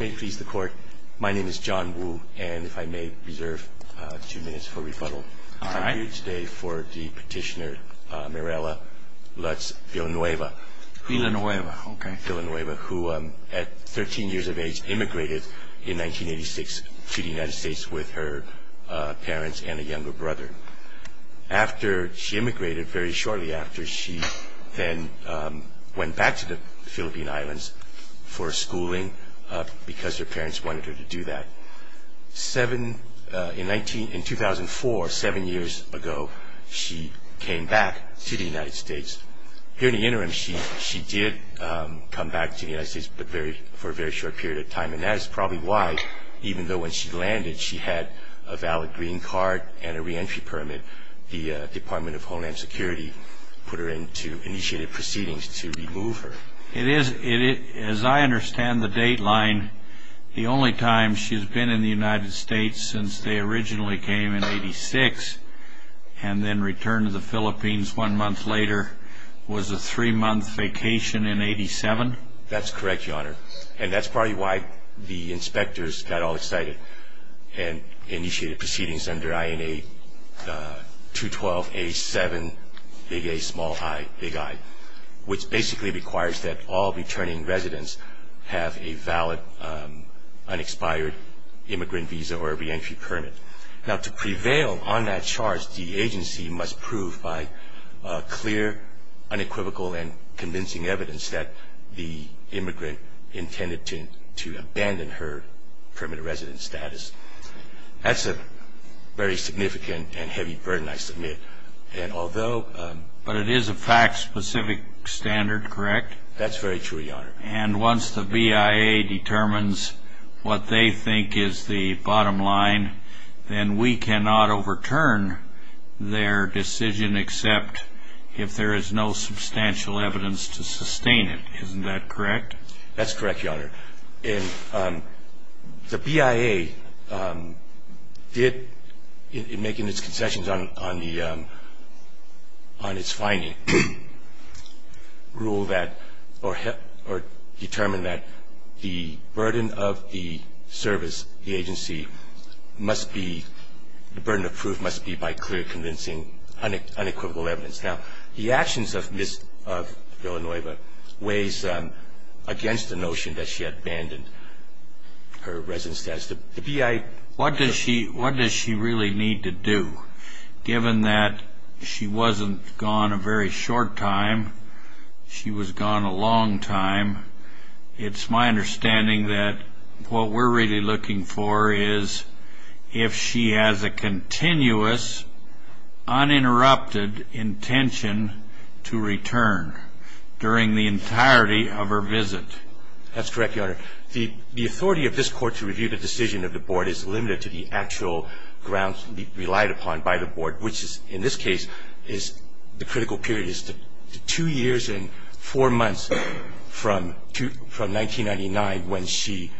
May it please the court, my name is John Wu, and if I may reserve two minutes for rebuttal. I'm here today for the petitioner Mirella Lutz Villanueva. Villanueva, okay. Villanueva, who at 13 years of age immigrated in 1986 to the United States with her parents and a younger brother. After she immigrated, very shortly after, she then went back to the Philippine Islands for schooling because her parents wanted her to do that. In 2004, seven years ago, she came back to the United States. Here in the interim, she did come back to the United States, but for a very short period of time. And that is probably why, even though when she landed, she had a valid green card and a re-entry permit, the Department of Homeland Security put her into initiated proceedings to remove her. It is, as I understand the dateline, the only time she's been in the United States since they originally came in 86, and then returned to the Philippines one month later, was a three-month vacation in 87? That's correct, Your Honor. And that's probably why the inspectors got all excited and initiated proceedings under INA 212A7, big A, small I, big I, which basically requires that all returning residents have a valid, unexpired immigrant visa or a re-entry permit. Now, to prevail on that charge, the agency must prove by clear, unequivocal, and convincing evidence that the immigrant intended to abandon her permanent residence status. That's a very significant and heavy burden, I submit. But it is a fact-specific standard, correct? That's very true, Your Honor. And once the BIA determines what they think is the bottom line, then we cannot overturn their decision except if there is no substantial evidence to sustain it. Isn't that correct? That's correct, Your Honor. And the BIA did, in making its concessions on its finding, ruled that or determined that the burden of the service, the agency, must be, the burden of proof must be by clear, convincing, unequivocal evidence. Now, the actions of Ms. Villanueva weighs against the notion that she abandoned her residence status. What does she really need to do? Given that she wasn't gone a very short time, she was gone a long time, it's my understanding that what we're really looking for is if she has a continuous, uninterrupted intention to return during the entirety of her visit. That's correct, Your Honor. The authority of this Court to review the decision of the Board is limited to the actual grounds relied upon by the Board, which in this case is the critical period is two years and four months from 1999 when she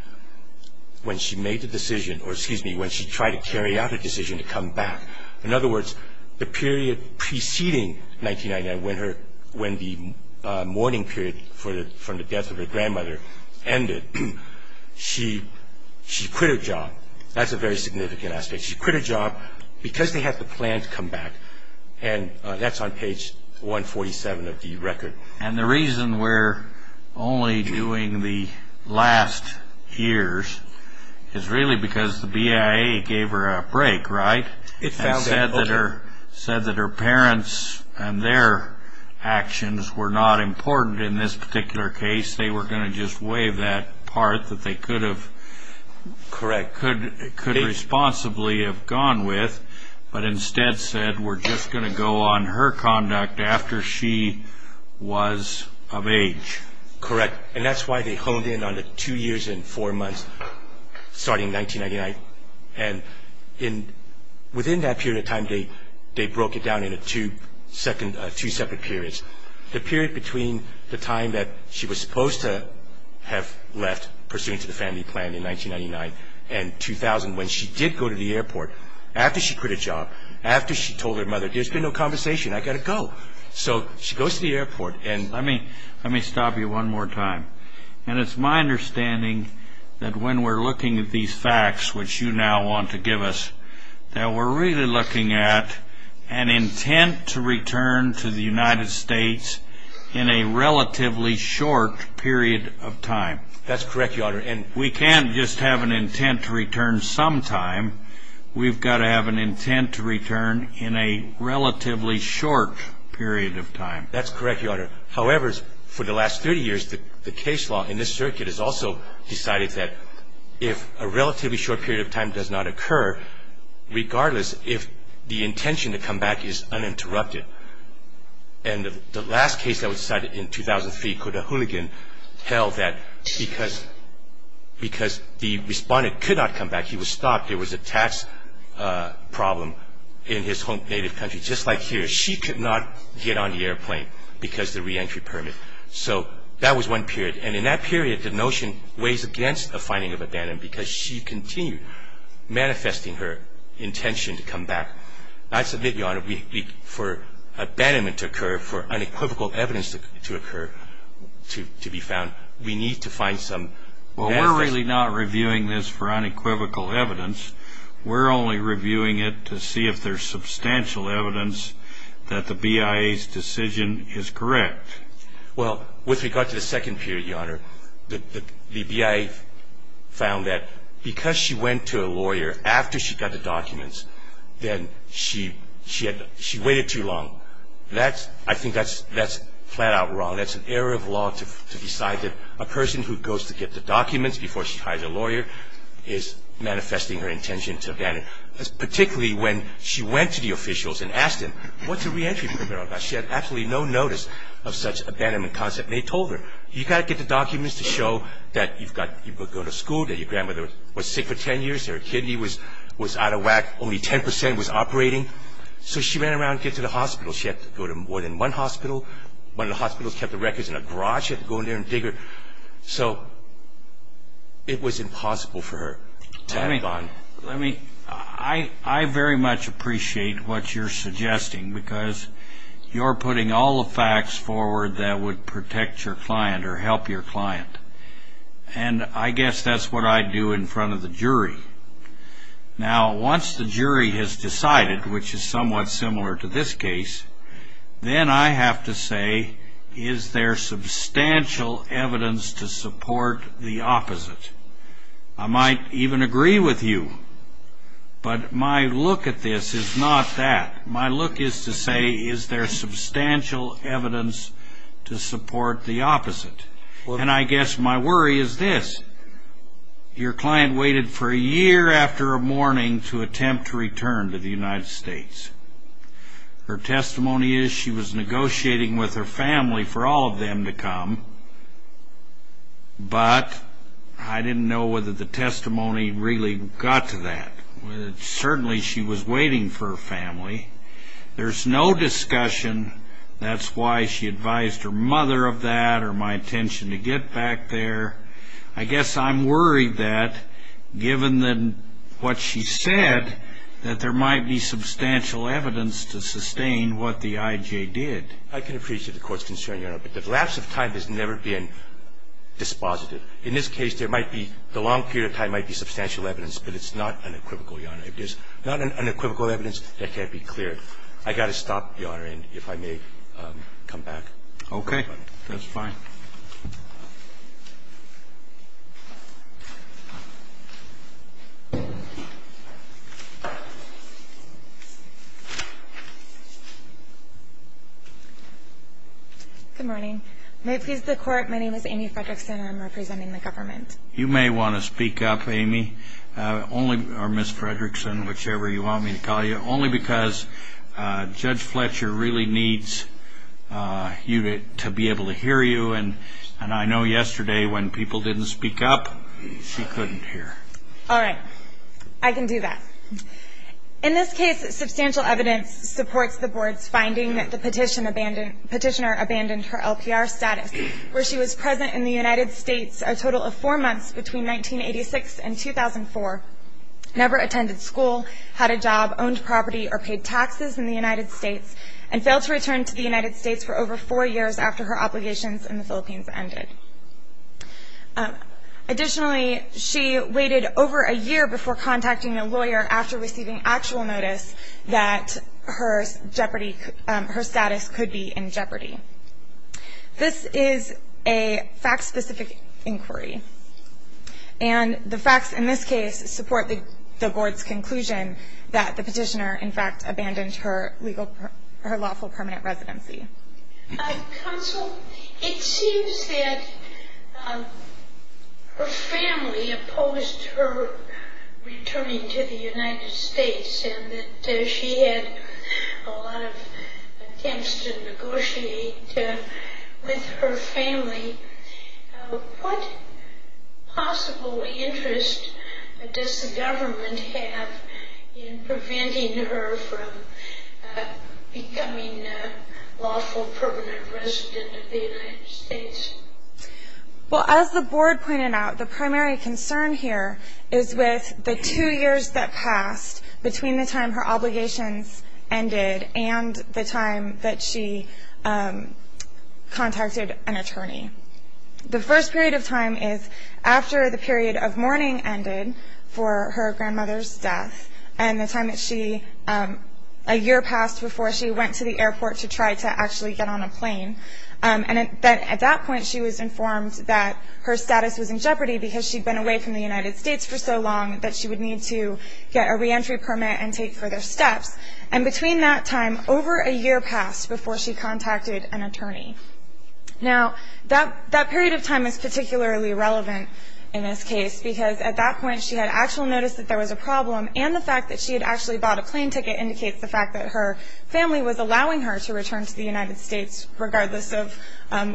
made the decision or, excuse me, when she tried to carry out a decision to come back. In other words, the period preceding 1999, when the mourning period from the death of her grandmother ended, she quit her job. That's a very significant aspect. She quit her job because they had the plan to come back, and that's on page 147 of the record. And the reason we're only doing the last years is really because the BIA gave her a break, right? It found that, okay. And said that her parents and their actions were not important in this particular case. They were going to just waive that part that they could have responsibly have gone with, but instead said we're just going to go on her conduct after she was of age. Correct. And that's why they honed in on the two years and four months starting 1999. And within that period of time, they broke it down into two separate periods. The period between the time that she was supposed to have left pursuant to the family plan in 1999 and 2000, when she did go to the airport after she quit her job, after she told her mother, there's been no conversation, I've got to go. So she goes to the airport. Let me stop you one more time. And it's my understanding that when we're looking at these facts, which you now want to give us, that we're really looking at an intent to return to the United States in a relatively short period of time. That's correct, Your Honor. And we can't just have an intent to return some time. We've got to have an intent to return in a relatively short period of time. That's correct, Your Honor. However, for the last 30 years, the case law in this circuit has also decided that if a relatively short period of time does not occur, regardless if the intention to come back is uninterrupted. And the last case that was decided in 2003, could a hooligan tell that because the respondent could not come back, he was stopped, there was a tax problem in his home native country, just like here, she could not get on the airplane because the reentry permit. So that was one period. And in that period, the notion weighs against the finding of abandonment because she continued manifesting her intention to come back. I submit, Your Honor, for abandonment to occur, for unequivocal evidence to occur, to be found, we need to find some evidence. Well, we're really not reviewing this for unequivocal evidence. We're only reviewing it to see if there's substantial evidence that the BIA's decision is correct. Well, with regard to the second period, Your Honor, the BIA found that because she went to a lawyer after she got the documents, then she waited too long. I think that's flat out wrong. That's an error of law to decide that a person who goes to get the documents before she hires a lawyer is manifesting her intention to abandon, particularly when she went to the officials and asked them, what's a reentry permit all about? She had absolutely no notice of such abandonment concept. And they told her, you've got to get the documents to show that you've got to go to school, that your grandmother was sick for 10 years, her kidney was out of whack, only 10% was operating. So she ran around to get to the hospital. She had to go to more than one hospital. One of the hospitals kept the records in a garage. She had to go in there and dig her. So it was impossible for her to have gone. I very much appreciate what you're suggesting, because you're putting all the facts forward that would protect your client or help your client. And I guess that's what I do in front of the jury. Now, once the jury has decided, which is somewhat similar to this case, then I have to say, is there substantial evidence to support the opposite? I might even agree with you. But my look at this is not that. My look is to say, is there substantial evidence to support the opposite? And I guess my worry is this. Your client waited for a year after a mourning to attempt to return to the United States. Her testimony is she was negotiating with her family for all of them to come. But I didn't know whether the testimony really got to that. Certainly she was waiting for her family. There's no discussion. That's why she advised her mother of that or my intention to get back there. I guess I'm worried that, given what she said, that there might be substantial evidence to sustain what the IJ did. I can appreciate the Court's concern, Your Honor, but the lapse of time has never been dispositive. In this case, there might be the long period of time might be substantial evidence, but it's not unequivocal, Your Honor. If there's not unequivocal evidence, that can't be clear. I've got to stop, Your Honor, and if I may come back. Okay. That's fine. Good morning. May it please the Court, my name is Amy Fredrickson, and I'm representing the government. You may want to speak up, Amy, or Ms. Fredrickson, whichever you want me to call you, only because Judge Fletcher really needs you to be able to hear you, and I know yesterday when people didn't speak up, she couldn't hear. All right. I can do that. In this case, substantial evidence supports the Board's finding that the petitioner abandoned her LPR status, where she was present in the United States a total of four months between 1986 and 2004, never attended school, had a job, owned property, or paid taxes in the United States, and failed to return to the United States for over four years after her obligations in the Philippines ended. Additionally, she waited over a year before contacting a lawyer after receiving actual notice that her status could be in jeopardy. This is a fact-specific inquiry, and the facts in this case support the Board's conclusion that the petitioner, in fact, abandoned her lawful permanent residency. Counsel, it seems that her family opposed her returning to the United States and that she had a lot of attempts to negotiate with her family. What possible interest does the government have in preventing her from becoming a lawful permanent resident of the United States? Well, as the Board pointed out, the primary concern here is with the two years that passed between the time her obligations ended and the time that she contacted an attorney. The first period of time is after the period of mourning ended for her grandmother's death and the time that she, a year passed before she went to the airport to try to actually get on a plane. And at that point, she was informed that her status was in jeopardy because she'd been away from the United States for so long that she would need to get a reentry permit and take further steps. And between that time, over a year passed before she contacted an attorney. Now, that period of time is particularly relevant in this case because at that point, she had actual notice that there was a problem and the fact that she had actually bought a plane ticket indicates the fact that her family was allowing her to return to the United States, regardless of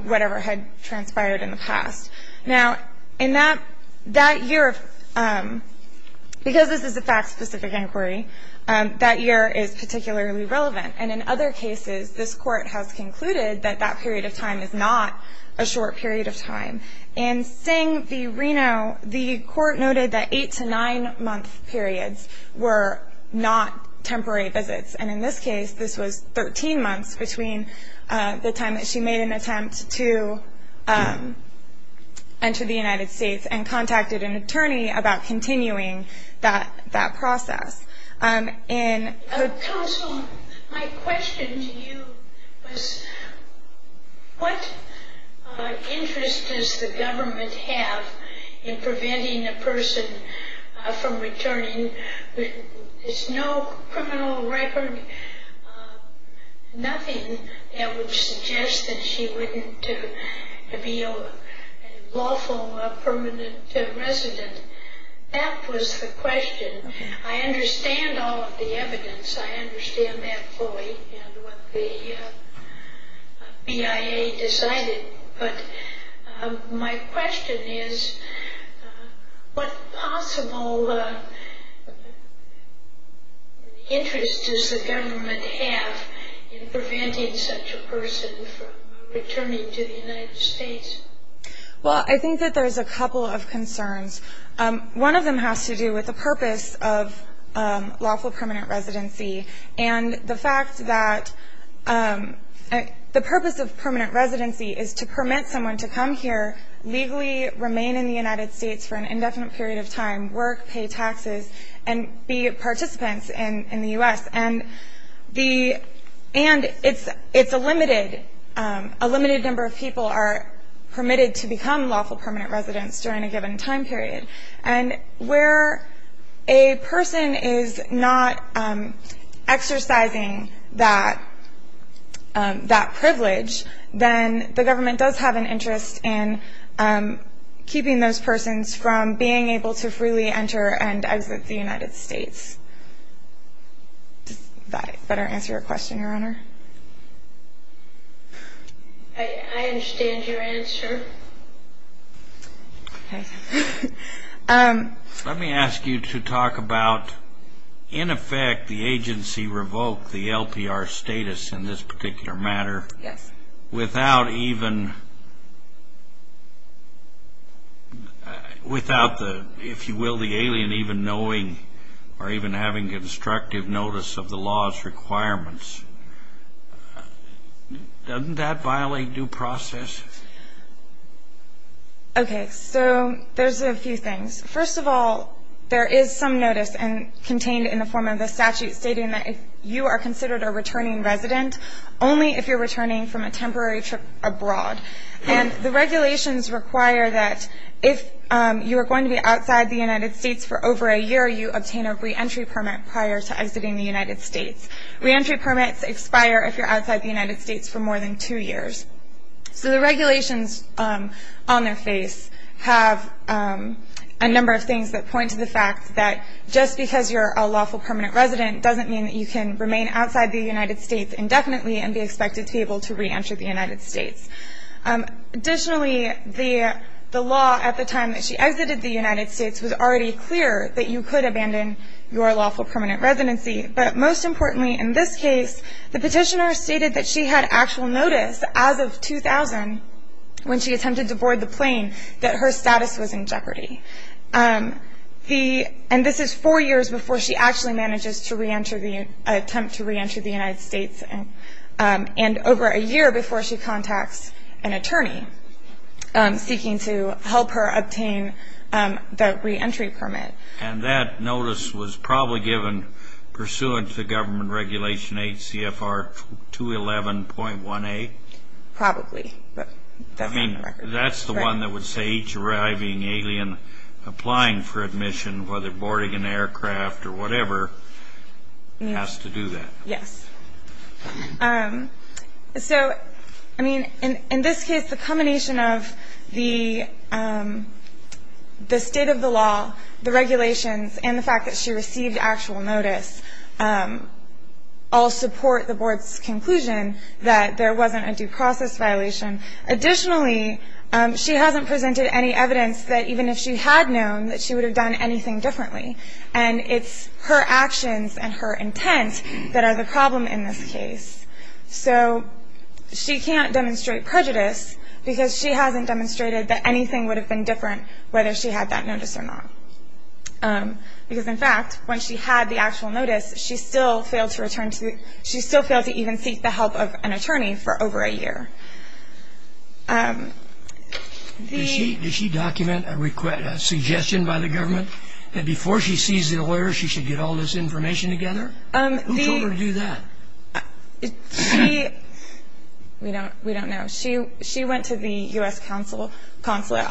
whatever had transpired in the past. Now, in that year, because this is a fact-specific inquiry, that year is particularly relevant. And in other cases, this Court has concluded that that period of time is not a short period of time. In seeing the Reno, the Court noted that eight- to nine-month periods were not temporary visits. And in this case, this was 13 months between the time that she made an attempt to enter the United States and contacted an attorney about continuing that process. Counsel, my question to you is, what interest does the government have in preventing a person from returning? There's no criminal record, nothing that would suggest that she wouldn't be a lawful permanent resident. That was the question. I understand all of the evidence. I understand that fully and what the BIA decided. But my question is, what possible interest does the government have in preventing such a person from returning to the United States? Well, I think that there's a couple of concerns. One of them has to do with the purpose of lawful permanent residency and the fact that the purpose of permanent residency is to permit someone to come here, legally remain in the United States for an indefinite period of time, work, pay taxes, and be participants in the U.S. And it's a limited number of people are permitted to become lawful permanent residents during a given time period. And where a person is not exercising that privilege, then the government does have an interest in keeping those persons from being able to freely enter and exit the United States. Does that better answer your question, Your Honor? I understand your answer. Let me ask you to talk about, in effect, the agency revoked the LPR status in this particular matter without even, if you will, the alien even knowing or even having constructive notice of the law's requirements. Doesn't that violate due process? Okay, so there's a few things. First of all, there is some notice contained in the form of the statute stating that if you are considered a returning resident, only if you're returning from a temporary trip abroad. And the regulations require that if you are going to be outside the United States for over a year, you obtain a reentry permit prior to exiting the United States. Reentry permits expire if you're outside the United States for more than two years. So the regulations on their face have a number of things that point to the fact that just because you're a lawful permanent resident doesn't mean that you can remain outside the United States indefinitely and be expected to be able to reenter the United States. Additionally, the law at the time that she exited the United States was already clear that you could abandon your lawful permanent residency. But most importantly in this case, the petitioner stated that she had actual notice as of 2000 when she attempted to board the plane that her status was in jeopardy. And this is four years before she actually manages to attempt to reenter the United States and over a year before she contacts an attorney seeking to help her obtain the reentry permit. And that notice was probably given pursuant to Government Regulation 8 CFR 211.1A? Probably. I mean, that's the one that would say each arriving alien applying for admission, whether boarding an aircraft or whatever, has to do that. Yes. So, I mean, in this case, the combination of the state of the law, the regulations, and the fact that she received actual notice all support the Board's conclusion that there wasn't a due process violation. Additionally, she hasn't presented any evidence that even if she had known, that she would have done anything differently. And it's her actions and her intent that are the problem in this case. So she can't demonstrate prejudice because she hasn't demonstrated that anything would have been different whether she had that notice or not. Because, in fact, when she had the actual notice, she still failed to even seek the help of an attorney for over a year. Does she document a suggestion by the government that before she sees the lawyer, she should get all this information together? Who told her to do that? We don't know. She went to the U.S. Consulate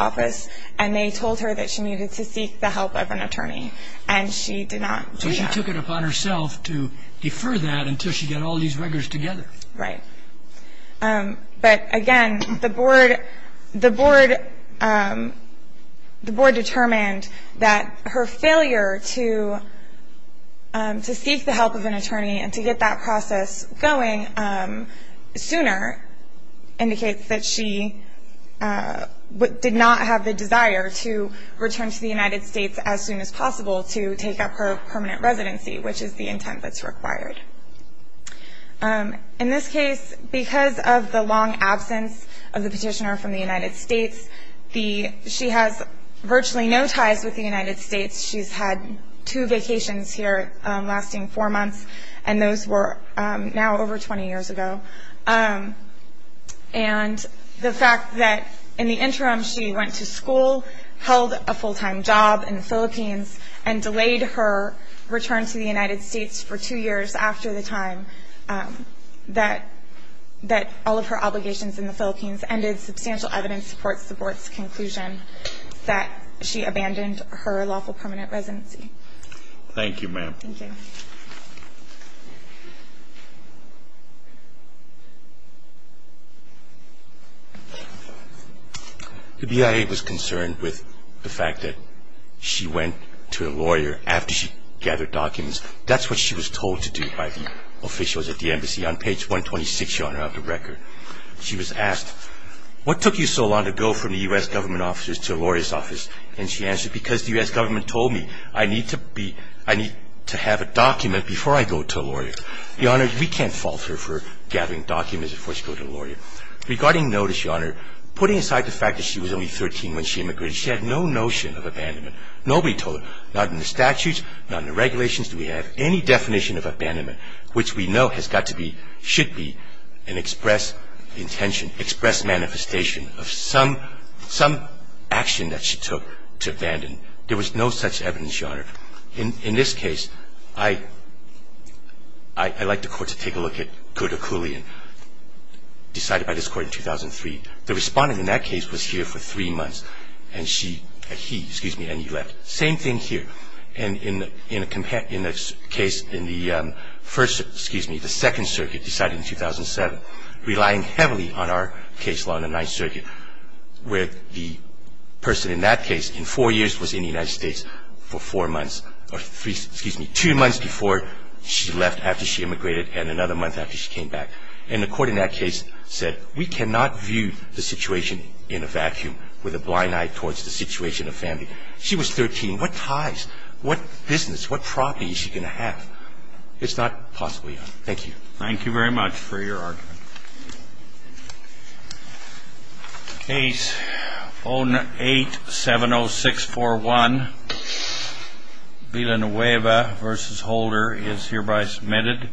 Office, and they told her that she needed to seek the help of an attorney. And she did not do that. So she took it upon herself to defer that until she got all these records together. Right. But, again, the board determined that her failure to seek the help of an attorney and to get that process going sooner indicates that she did not have the desire to return to the United States as soon as possible to take up her permanent residency, which is the intent that's required. In this case, because of the long absence of the petitioner from the United States, she has virtually no ties with the United States. She's had two vacations here lasting four months, and those were now over 20 years ago. And the fact that, in the interim, she went to school, held a full-time job in the Philippines, and delayed her return to the United States for two years after the time that all of her obligations in the Philippines ended substantial evidence supports the board's conclusion that she abandoned her lawful permanent residency. Thank you, ma'am. Thank you. The BIA was concerned with the fact that she went to a lawyer after she gathered documents. That's what she was told to do by the officials at the embassy. On page 126, you'll have the record. She was asked, what took you so long to go from the U.S. government officers to a lawyer's office? And she answered, because the U.S. government told me I need to have a document to prove that I'm a lawyer. Now, before I go to a lawyer, Your Honor, we can't fault her for gathering documents before she goes to a lawyer. Regarding notice, Your Honor, putting aside the fact that she was only 13 when she immigrated, she had no notion of abandonment. Nobody told her, not in the statutes, not in the regulations, do we have any definition of abandonment, which we know has got to be, should be, an express intention, express manifestation of some action that she took to abandon. There was no such evidence, Your Honor. In this case, I'd like the Court to take a look at Kodakulian, decided by this Court in 2003. The respondent in that case was here for three months, and she, he, excuse me, and he left. Same thing here. And in the case in the first, excuse me, the Second Circuit, decided in 2007, relying heavily on our case law in the Ninth Circuit, where the person in that case in four years was in the United States for four months or three, excuse me, two months before she left after she immigrated and another month after she came back. And the Court in that case said we cannot view the situation in a vacuum with a blind eye towards the situation of family. She was 13. What ties, what business, what property is she going to have? It's not possible, Your Honor. Thank you. Thank you very much for your argument. Case 0870641, Villanueva v. Holder is hereby submitted.